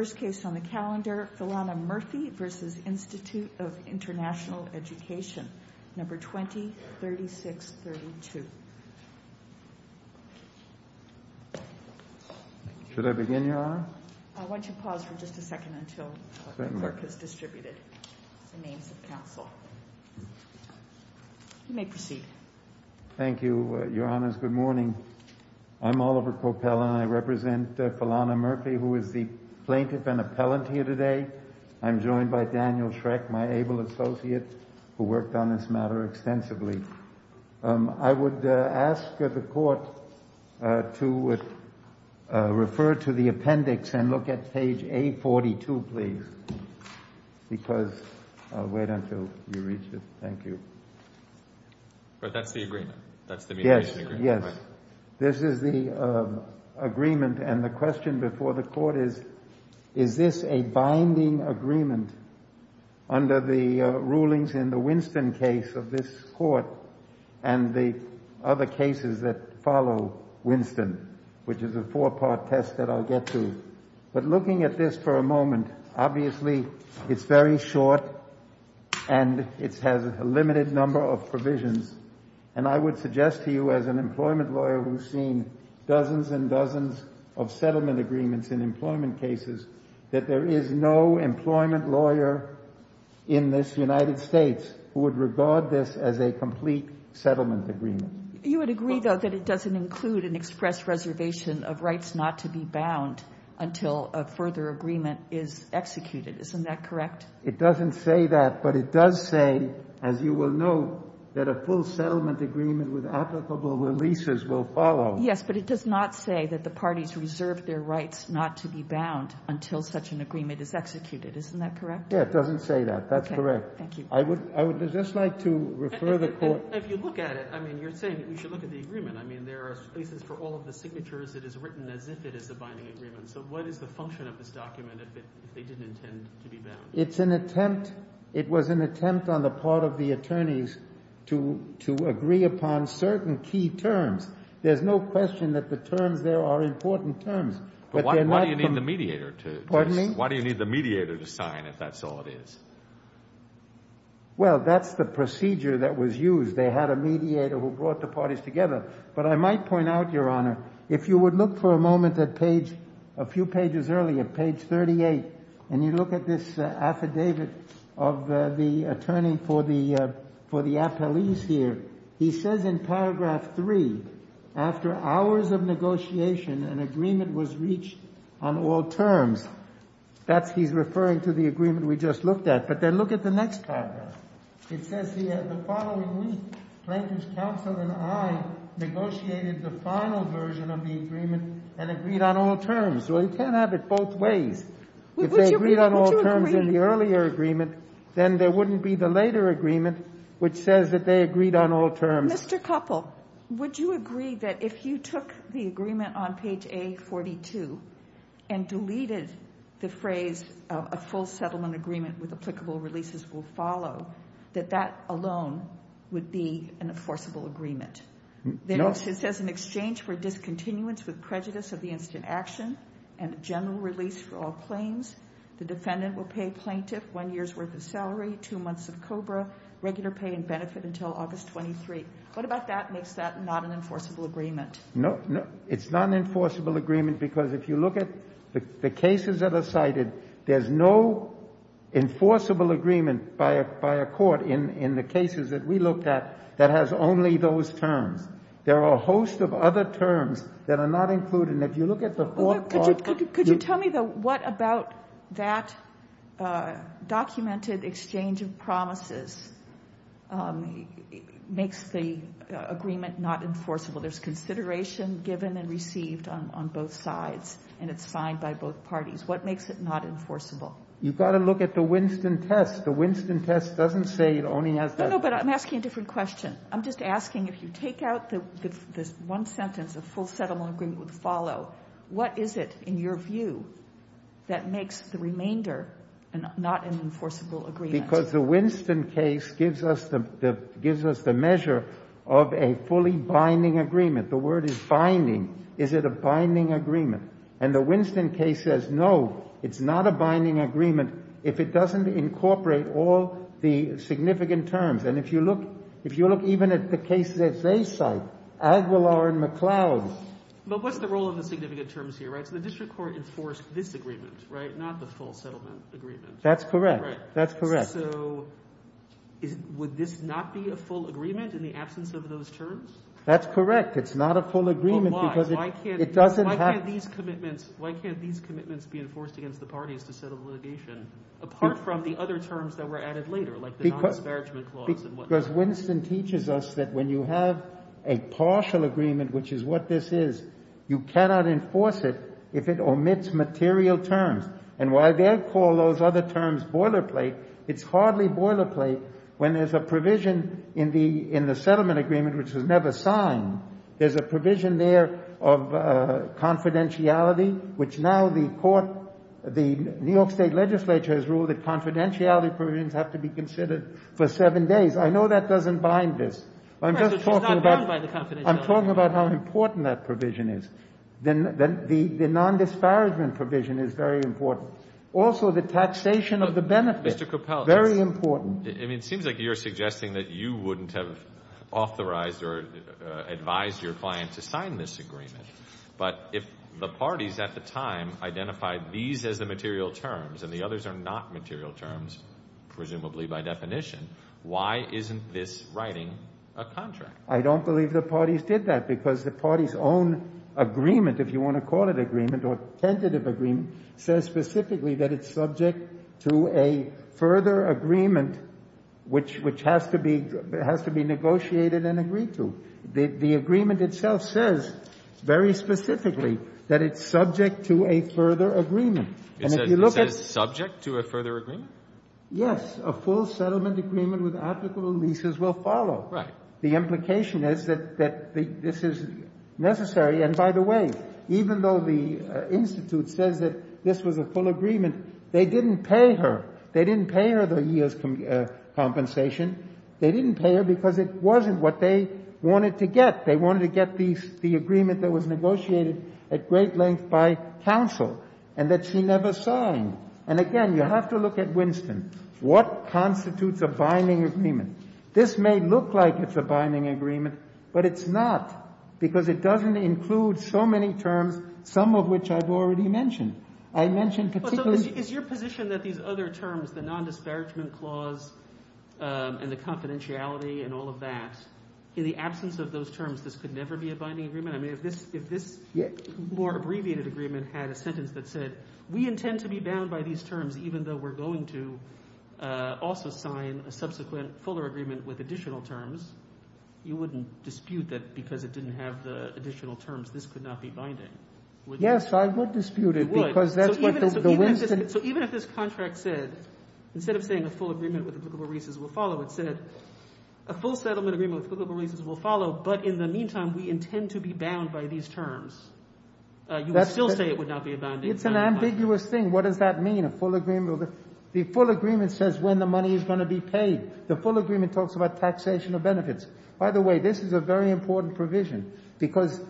First case on the calendar, Philana Murphy v. Institute of International Education, number 20-3632. Should I begin, Your Honor? I want you to pause for just a second until the work is distributed in the name of the counsel. You may proceed. Thank you, Your Honors. Good morning. I'm Oliver Kopel, and I represent Philana Murphy, who is the plaintiff and appellant here today. I'm joined by Daniel Schreck, my able associate, who worked on this matter extensively. I would ask the court to refer to the appendix and look at page A42, please, because I'll wait until you reach it. Thank you. But that's the agreement. That's the mediation agreement. Yes. This is the agreement, and the question before the court is, is this a binding agreement under the rulings in the Winston case of this court and the other cases that follow Winston, which is a four-part test that I'll get to. But looking at this for a moment, obviously, it's very short, and it has a limited number of provisions. And I would suggest to you, as an employment lawyer who's seen dozens and dozens of settlement agreements in employment cases, that there is no employment lawyer in this United States who would regard this as a complete settlement agreement. You would agree, though, that it doesn't include an express reservation of rights not to be bound until a further agreement is executed. Isn't that correct? It doesn't say that, but it does say, as you will know, that a full settlement agreement with applicable releases will follow. Yes, but it does not say that the parties reserve their rights not to be bound until such an agreement is executed. Isn't that correct? Yeah, it doesn't say that. That's correct. Thank you. I would just like to refer the court— If you look at it, I mean, you're saying that we should look at the agreement. I mean, there are places for all of the signatures. It is written as if it is a binding agreement. So what is the function of this document if they didn't intend to be bound? It's an attempt—it was an attempt on the part of the attorneys to agree upon certain key terms. There's no question that the terms there are important terms, but they're not— But why do you need the mediator to— Pardon me? Why do you need the mediator to sign if that's all it is? Well, that's the procedure that was used. They had a mediator who brought the parties together. But I might point out, Your Honor, if you would look for a moment at page—a few pages earlier, page 38, and you look at this affidavit of the attorney for the appellees here, he says in paragraph 3, after hours of negotiation, an agreement was reached on all terms. That's—he's referring to the agreement we just looked at. But then look at the next paragraph. It says here, the following week, Plaintiff's counsel and I negotiated the final version of the agreement and agreed on all terms. Well, you can't have it both ways. If they agreed on all terms in the earlier agreement, then there wouldn't be the later agreement which says that they agreed on all terms. Mr. Koppel, would you agree that if you took the agreement on page A42 and deleted the phrase, a full settlement agreement with applicable releases will follow, that that alone would be an enforceable agreement? No. Yes. It says in exchange for discontinuance with prejudice of the instant action and general release for all claims, the defendant will pay plaintiff one year's worth of salary, two months of COBRA, regular pay and benefit until August 23. What about that makes that not an enforceable agreement? No. It's not an enforceable agreement because if you look at the cases that are cited, there's no enforceable agreement by a court in the cases that we looked at that has only those terms. There are a host of other terms that are not included. And if you look at the fourth clause of the statute, you can't have it both ways. Could you tell me, though, what about that documented exchange of promises makes the agreement not enforceable? There's consideration given and received on both sides, and it's signed by both parties. What makes it not enforceable? You've got to look at the Winston test. The Winston test doesn't say it only has that. No, no, but I'm asking a different question. I'm just asking if you take out the one sentence, a full settlement agreement would follow, what is it, in your view, that makes the remainder not an enforceable agreement? Because the Winston case gives us the measure of a fully binding agreement. The word is binding. Is it a binding agreement? And the Winston case says, no, it's not a binding agreement if it doesn't incorporate all the significant terms. And if you look even at the cases that they cite, Aguilar and McLeod. But what's the role of the significant terms here, right? So the district court enforced this agreement, right? Not the full settlement agreement. That's correct. That's correct. So would this not be a full agreement in the absence of those terms? That's correct. It's not a full agreement because it doesn't have. Why can't these commitments be enforced against the parties to settle litigation, apart from the other terms that were added later, like the non-disparagement clause and whatnot? Because Winston teaches us that when you have a partial agreement, which is what this is, you cannot enforce it if it omits material terms. And why they call those other terms boilerplate, it's hardly boilerplate when there's a provision in the settlement agreement which was never signed. There's a provision there of confidentiality, which now the New York State legislature has ruled that confidentiality provisions have to be considered for seven days. I know that doesn't bind this. I'm just talking about how important that provision is. Then the non-disparagement provision is very important. Also, the taxation of the benefit, very important. I mean, it seems like you're suggesting that you wouldn't have authorized or advised your client to sign this agreement. But if the parties at the time identified these as the material terms, and the others are not material terms, presumably by definition, why isn't this writing a contract? I don't believe the parties did that, because the parties' own agreement, if you want to call it agreement or tentative agreement, says specifically that it's subject to a further agreement, which has to be negotiated and agreed to. The agreement itself says very specifically that it's subject to a further agreement. And if you look at the statute, it says it's subject to a further agreement? Yes. A full settlement agreement with applicable leases will follow. Right. The implication is that this is necessary. And by the way, even though the institute says that this was a full agreement, they didn't pay her. They didn't pay her the year's compensation. They didn't pay her because it wasn't what they wanted to get. They wanted to get the agreement that was negotiated at great length by counsel. And that she never signed. And again, you have to look at Winston. What constitutes a binding agreement? This may look like it's a binding agreement, but it's not. Because it doesn't include so many terms, some of which I've already mentioned. I mentioned particularly- Is your position that these other terms, the non-disparagement clause and the confidentiality and all of that, in the absence of those terms, this could never be a binding agreement? I mean, if this more abbreviated agreement had a sentence that said, we intend to be bound by these terms even though we're going to also sign a subsequent fuller agreement with additional terms, you wouldn't dispute that because it didn't have the additional terms, this could not be binding. Yes, I would dispute it because that's what the Winston- So even if this contract said, instead of saying a full agreement with applicable leases will follow, it said a full settlement agreement with applicable leases would not be bound by these terms, you would still say it would not be a binding contract. It's an ambiguous thing. What does that mean, a full agreement? The full agreement says when the money is going to be paid. The full agreement talks about taxation of benefits. By the way, this is a very important provision. Because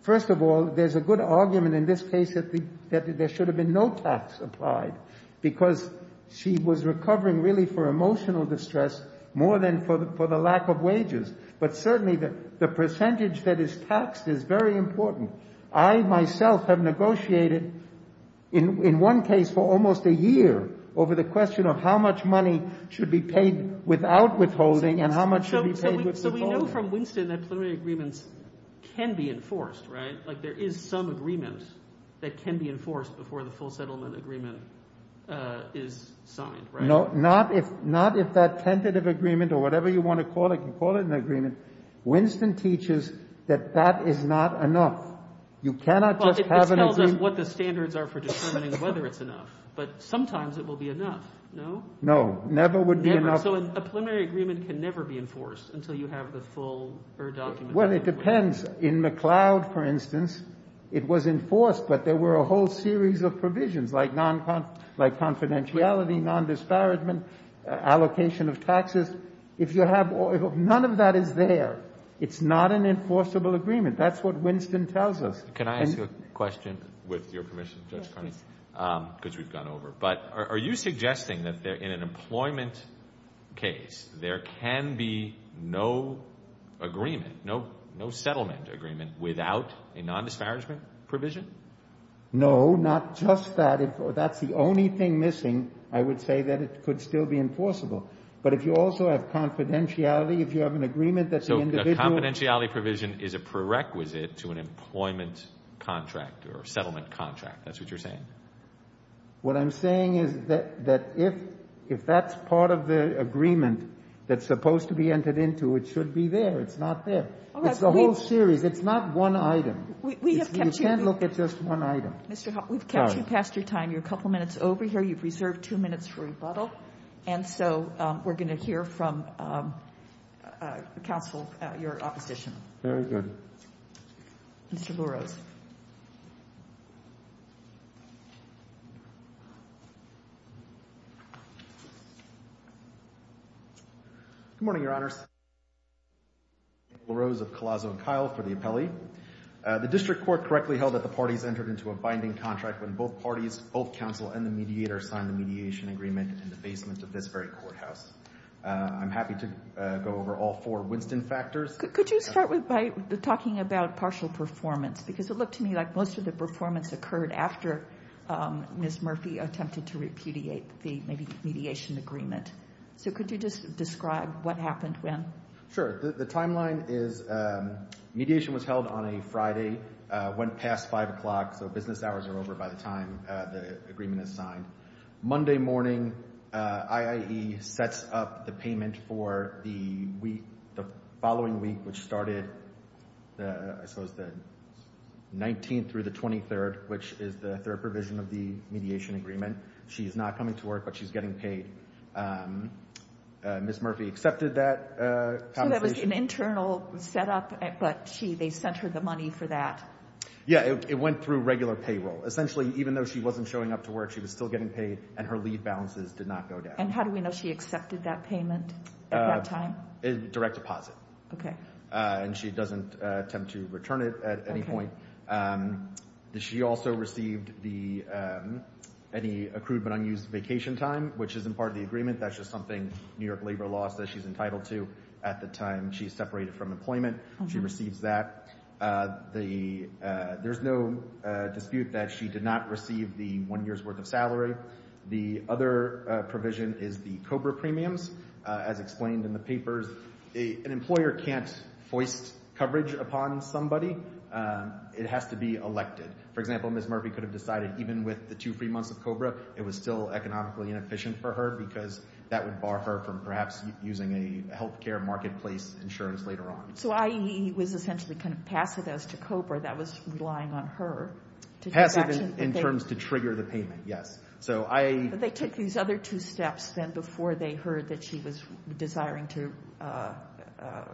first of all, there's a good argument in this case that there should have been no tax applied because she was recovering really for emotional distress more than for the lack of wages. But certainly the percentage that is taxed is very important. I myself have negotiated in one case for almost a year over the question of how much money should be paid without withholding and how much should be paid with withholding. So we know from Winston that preliminary agreements can be enforced, right? Like there is some agreement that can be enforced before the full settlement agreement is signed, right? No, not if that tentative agreement or whatever you want to call it, you call it an agreement. Winston teaches that that is not enough. You cannot just have an agreement. It tells us what the standards are for determining whether it's enough. But sometimes it will be enough, no? No, never would be enough. So a preliminary agreement can never be enforced until you have the full document. Well, it depends. In McLeod, for instance, it was enforced, but there were a whole series of provisions, like confidentiality, non-disparagement, allocation of taxes. If you have none of that is there, it's not an enforceable agreement. That's what Winston tells us. Can I ask you a question, with your permission, Judge Carney, because we've gone over? But are you suggesting that in an employment case, there can be no agreement, no settlement agreement without a non-disparagement provision? No, not just that. If that's the only thing missing, I would say that it could still be enforceable. But if you also have confidentiality, if you have an agreement that's the individual So a confidentiality provision is a prerequisite to an employment contract or settlement contract, that's what you're saying? What I'm saying is that if that's part of the agreement that's supposed to be entered into, it should be there. It's not there. It's a whole series. It's not one item. We have kept you. You can't look at just one item. Mr. Huff, we've kept you past your time. You're a couple minutes over here. You've reserved two minutes for rebuttal. And so we're going to hear from counsel, your opposition. Very good. Mr. Lurose. Good morning, Your Honors. Lurose of Collazo and Kyle for the appellee. The district court correctly held that the parties entered into a binding contract when both parties, both counsel and the mediator signed the mediation agreement in the basement of this very courthouse. I'm happy to go over all four Winston factors. Could you start by talking about partial performance? Because it looked to me like most of the performance occurred after Ms. Murphy attempted to repudiate the mediation agreement. So could you just describe what happened when? Sure. The timeline is mediation was held on a Friday, went past five o'clock, so business hours are over by the time the agreement is signed. Monday morning, IIE sets up the payment for the following week, which started, I suppose, the 19th through the 23rd, which is the third provision of the mediation agreement. She's not coming to work, but she's getting paid. Ms. Murphy accepted that compensation. So that was an internal setup, but they sent her the money for that? Yeah, it went through regular payroll. Essentially, even though she wasn't showing up to work, she was still getting paid and her leave balances did not go down. And how do we know she accepted that payment at that time? Direct deposit. Okay. And she doesn't attempt to return it at any point. She also received any accrued but unused vacation time, which isn't part of the agreement. That's just something New York Labor Law says she's entitled to at the time she's separated from employment. She receives that. There's no dispute that she did not receive the one year's worth of salary. The other provision is the COBRA premiums. As explained in the papers, an employer can't foist coverage upon somebody. It has to be elected. For example, Ms. Murphy could have decided, even with the two free months of COBRA, it was still economically inefficient for her because that would bar her from perhaps using a health care marketplace insurance later on. So IEE was essentially kind of passive as to COBRA that was relying on her to do that? Passive in terms to trigger the payment, yes. But they took these other two steps then before they heard that she was desiring to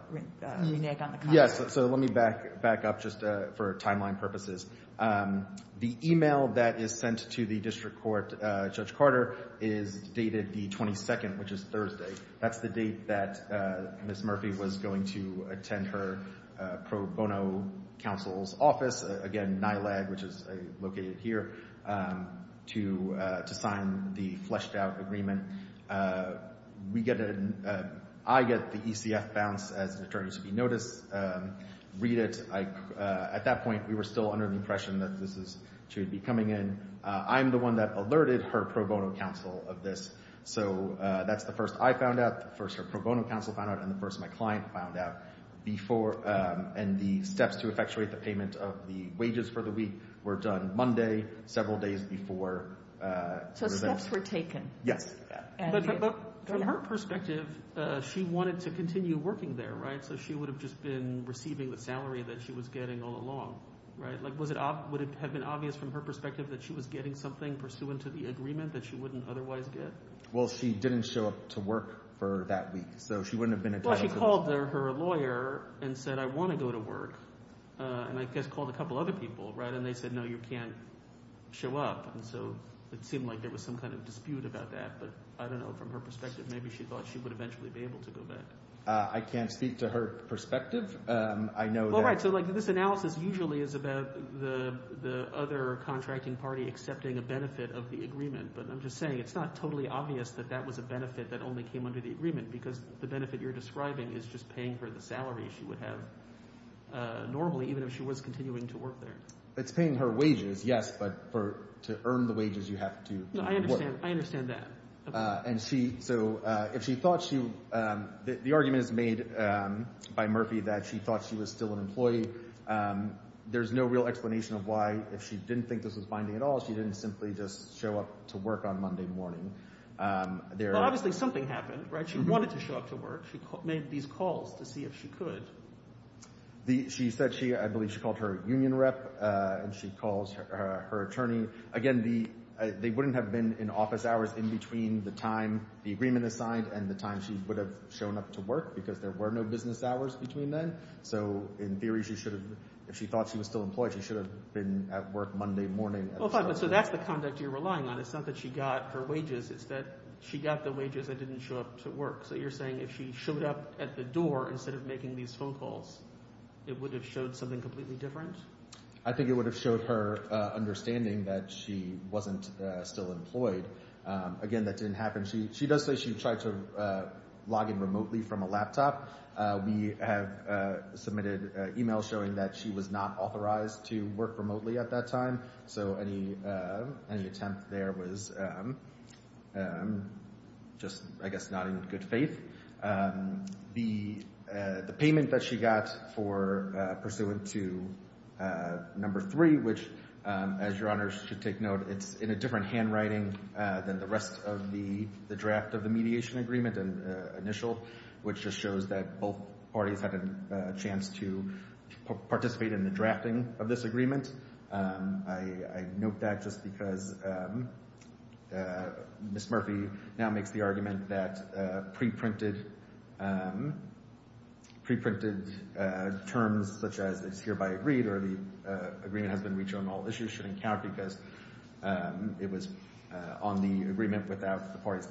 renege on the contract? Yes. So let me back up just for timeline purposes. The email that is sent to the district court, Judge Carter, is dated the 22nd, which is Thursday. That's the date that Ms. Murphy was going to attend her pro bono counsel's office, again to sign the fleshed out agreement. I get the ECF bounce as an attorney to be noticed, read it. At that point, we were still under the impression that she would be coming in. I'm the one that alerted her pro bono counsel of this. So that's the first I found out, the first her pro bono counsel found out, and the first my client found out. And the steps to effectuate the payment of the wages for the week were done Monday, several days before. So steps were taken? Yes. But from her perspective, she wanted to continue working there, right? So she would have just been receiving the salary that she was getting all along, right? Would it have been obvious from her perspective that she was getting something pursuant to the agreement that she wouldn't otherwise get? Well, she didn't show up to work for that week, so she wouldn't have been entitled to this. Well, she called her lawyer and said, I want to go to work. And I guess called a couple other people, right? And they said, no, you can't show up. So it seemed like there was some kind of dispute about that. But I don't know. From her perspective, maybe she thought she would eventually be able to go back. I can't speak to her perspective. I know that... Well, right. So this analysis usually is about the other contracting party accepting a benefit of the agreement. But I'm just saying, it's not totally obvious that that was a benefit that only came under the agreement, because the benefit you're describing is just paying for the salary she would have normally, even if she was continuing to work there. It's paying her wages, yes. But to earn the wages, you have to work. No, I understand. I understand that. And she... So if she thought she... The argument is made by Murphy that she thought she was still an employee. There's no real explanation of why, if she didn't think this was binding at all, she didn't simply just show up to work on Monday morning. But obviously, something happened, right? She wanted to show up to work. She made these calls to see if she could. She said she... I believe she called her union rep, and she calls her attorney. Again, they wouldn't have been in office hours in between the time the agreement is signed and the time she would have shown up to work, because there were no business hours between then. So in theory, she should have... If she thought she was still employed, she should have been at work Monday morning. Well, fine. But so that's the conduct you're relying on. It's not that she got her wages, it's that she got the wages and didn't show up to work. So you're saying if she showed up at the door instead of making these phone calls, it would have showed something completely different? I think it would have showed her understanding that she wasn't still employed. Again, that didn't happen. She does say she tried to log in remotely from a laptop. We have submitted emails showing that she was not authorized to work remotely at that time. So any attempt there was just, I guess, not in good faith. The payment that she got for pursuant to number three, which, as your honors should take note, it's in a different handwriting than the rest of the draft of the mediation agreement initial, which just shows that both parties had a chance to participate in the drafting of this agreement. I note that just because Ms. Murphy now makes the argument that pre-printed terms such as it's hereby agreed or the agreement has been reached on all issues shouldn't count because it was on the agreement without the parties,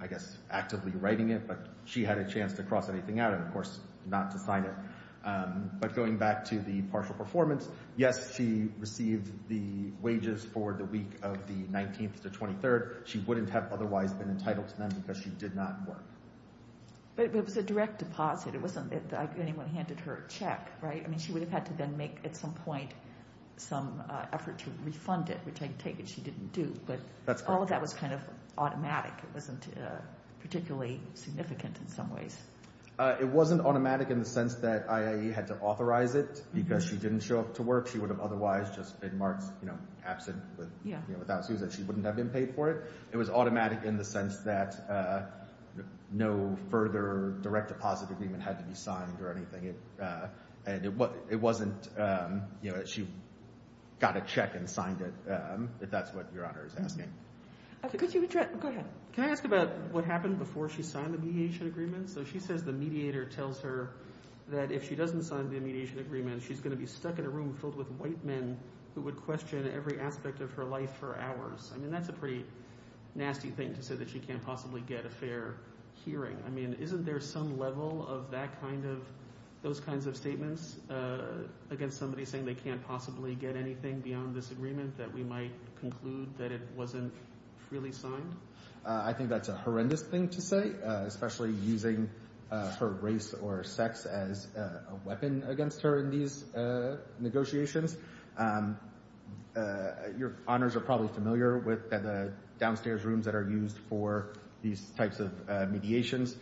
I guess, actively writing it. But she had a chance to cross anything out and, of course, not to sign it. But going back to the partial performance, yes, she received the wages for the week of the 19th to 23rd. She wouldn't have otherwise been entitled to them because she did not work. But it was a direct deposit. It wasn't that anyone handed her a check, right? I mean, she would have had to then make, at some point, some effort to refund it, which I take it she didn't do. But all of that was kind of automatic. It wasn't particularly significant in some ways. It wasn't automatic in the sense that IAEA had to authorize it because she didn't show up to work. She would have otherwise just been marked absent without excuse that she wouldn't have been paid for it. It was automatic in the sense that no further direct deposit agreement had to be signed or anything. It wasn't, you know, she got a check and signed it, if that's what Your Honor is asking. Could you address, go ahead. Can I ask about what happened before she signed the behavioral agreement? So she says the mediator tells her that if she doesn't sign the mediation agreement, she's going to be stuck in a room filled with white men who would question every aspect of her life for hours. I mean, that's a pretty nasty thing to say that she can't possibly get a fair hearing. I mean, isn't there some level of that kind of, those kinds of statements against somebody saying they can't possibly get anything beyond this agreement that we might conclude that it wasn't freely signed? I think that's a horrendous thing to say, especially using her race or sex as a weapon against her in these negotiations. Your Honors are probably familiar with the downstairs rooms that are used for these types of mediations.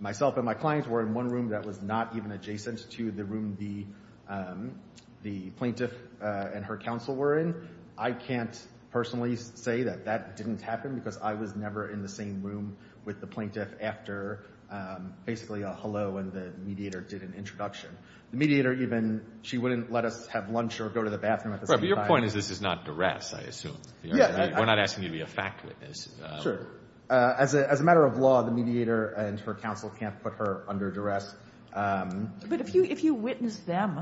Myself and my clients were in one room that was not even adjacent to the room the plaintiff and her counsel were in. I can't personally say that that didn't happen because I was never in the same room with the plaintiff after basically a hello and the mediator did an introduction. The mediator even, she wouldn't let us have lunch or go to the bathroom at the same time. But your point is this is not duress, I assume. We're not asking you to be a fact witness. Sure. As a matter of law, the mediator and her counsel can't put her under duress. But if you witness them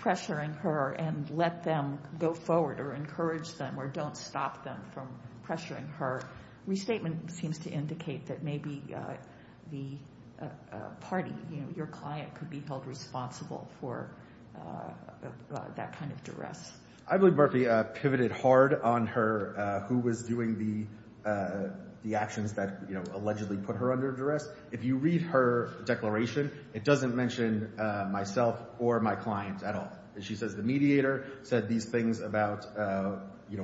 pressuring her and let them go forward or encourage them or don't stop them from pressuring her, restatement seems to indicate that maybe the party, your client could be held responsible for that kind of duress. I believe Murphy pivoted hard on her, who was doing the actions that allegedly put her under duress. If you read her declaration, it doesn't mention myself or my client at all. She says the mediator said these things about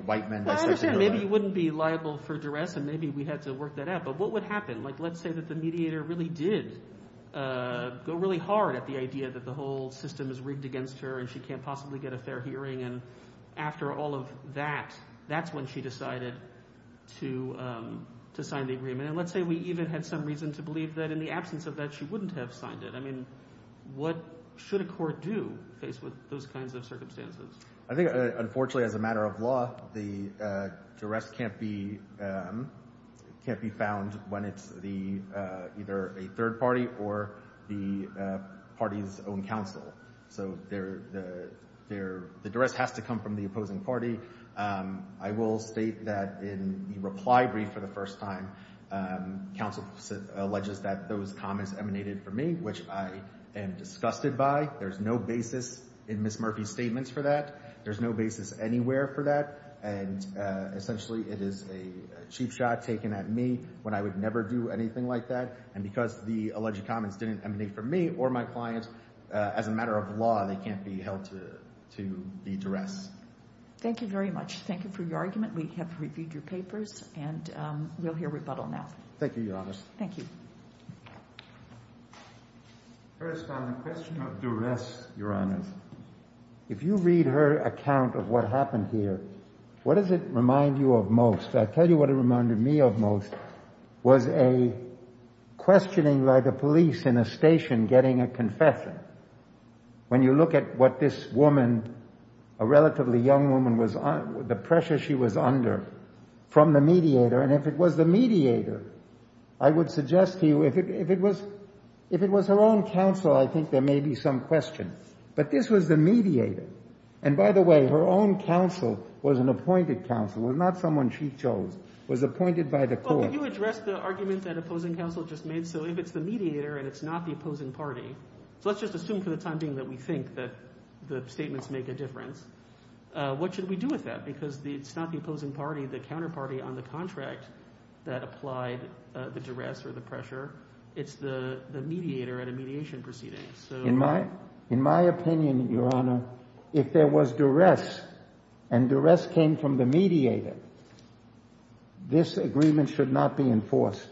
white men. Maybe you wouldn't be liable for duress and maybe we had to work that out. But what would happen? Let's say that the mediator really did go really hard at the idea that the whole system is rigged against her and she can't possibly get a fair hearing. And after all of that, that's when she decided to sign the agreement. And let's say we even had some reason to believe that in the absence of that, she wouldn't have signed it. I mean, what should a court do faced with those kinds of circumstances? I think unfortunately, as a matter of law, the duress can't be found when it's either a third party or the party's own counsel. So the duress has to come from the opposing party. I will state that in the reply brief for the first time, counsel alleges that those comments emanated from me, which I am disgusted by. There's no basis in Ms. Murphy's statements for that. There's no basis anywhere for that. And essentially, it is a cheap shot taken at me when I would never do anything like that. And because the alleged comments didn't emanate from me or my client, as a matter of law, they can't be held to the duress. Thank you very much. Thank you for your argument. We have reviewed your papers and we'll hear rebuttal now. Thank you, Your Honor. Thank you. First on the question of duress, Your Honor, if you read her account of what happened here, what does it remind you of most? I'll tell you what it reminded me of most was a questioning by the police in a station getting a confession. When you look at what this woman, a relatively young woman, the pressure she was under from the mediator, and if it was the mediator, I would suggest to you if it was her own counsel, I think there may be some question. But this was the mediator. And by the way, her own counsel was an appointed counsel, was not someone she chose, was appointed by the court. Well, could you address the argument that opposing counsel just made? So if it's the mediator and it's not the opposing party. So let's just assume for the time being that we think that the statements make a difference. What should we do with that? Because it's not the opposing party, the counterparty on the contract that applied the duress or the pressure. It's the mediator at a mediation proceeding. In my opinion, Your Honor, if there was duress and duress came from the mediator, this agreement should not be enforced.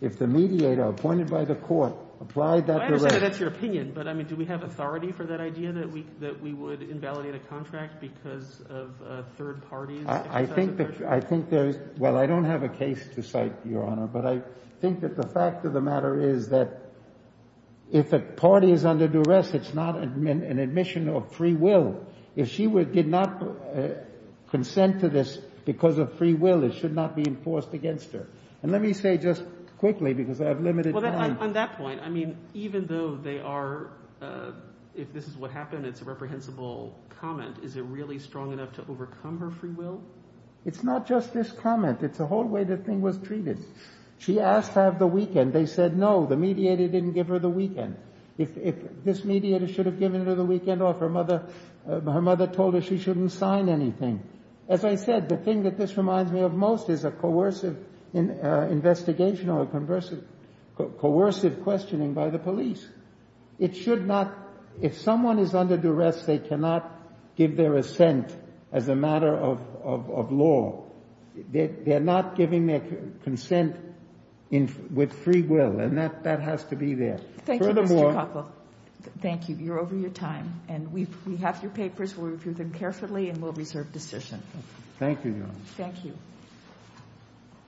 If the mediator appointed by the court applied that duress. I understand that's your opinion. But I mean, do we have authority for that idea that we that we would invalidate a contract because of third parties? I think that I think there is. Well, I don't have a case to cite, Your Honor. But I think that the fact of the matter is that if the party is under duress, it's not an admission of free will. If she did not consent to this because of free will, it should not be enforced against her. And let me say just quickly, because I have limited time. On that point, I mean, even though they are, if this is what happened, it's a reprehensible comment. Is it really strong enough to overcome her free will? It's not just this comment. It's a whole way the thing was treated. She asked to have the weekend. They said, no, the mediator didn't give her the weekend. If this mediator should have given her the weekend off, her mother told her she shouldn't sign anything. As I said, the thing that this reminds me of most is a coercive investigation or a coercive questioning by the police. It should not, if someone is under duress, they cannot give their assent as a matter of law. They're not giving their consent with free will. And that has to be there. Thank you, Mr. Koppel. Thank you. You're over your time. And we have your papers. We'll review them carefully and we'll reserve decision. Thank you. Thank you.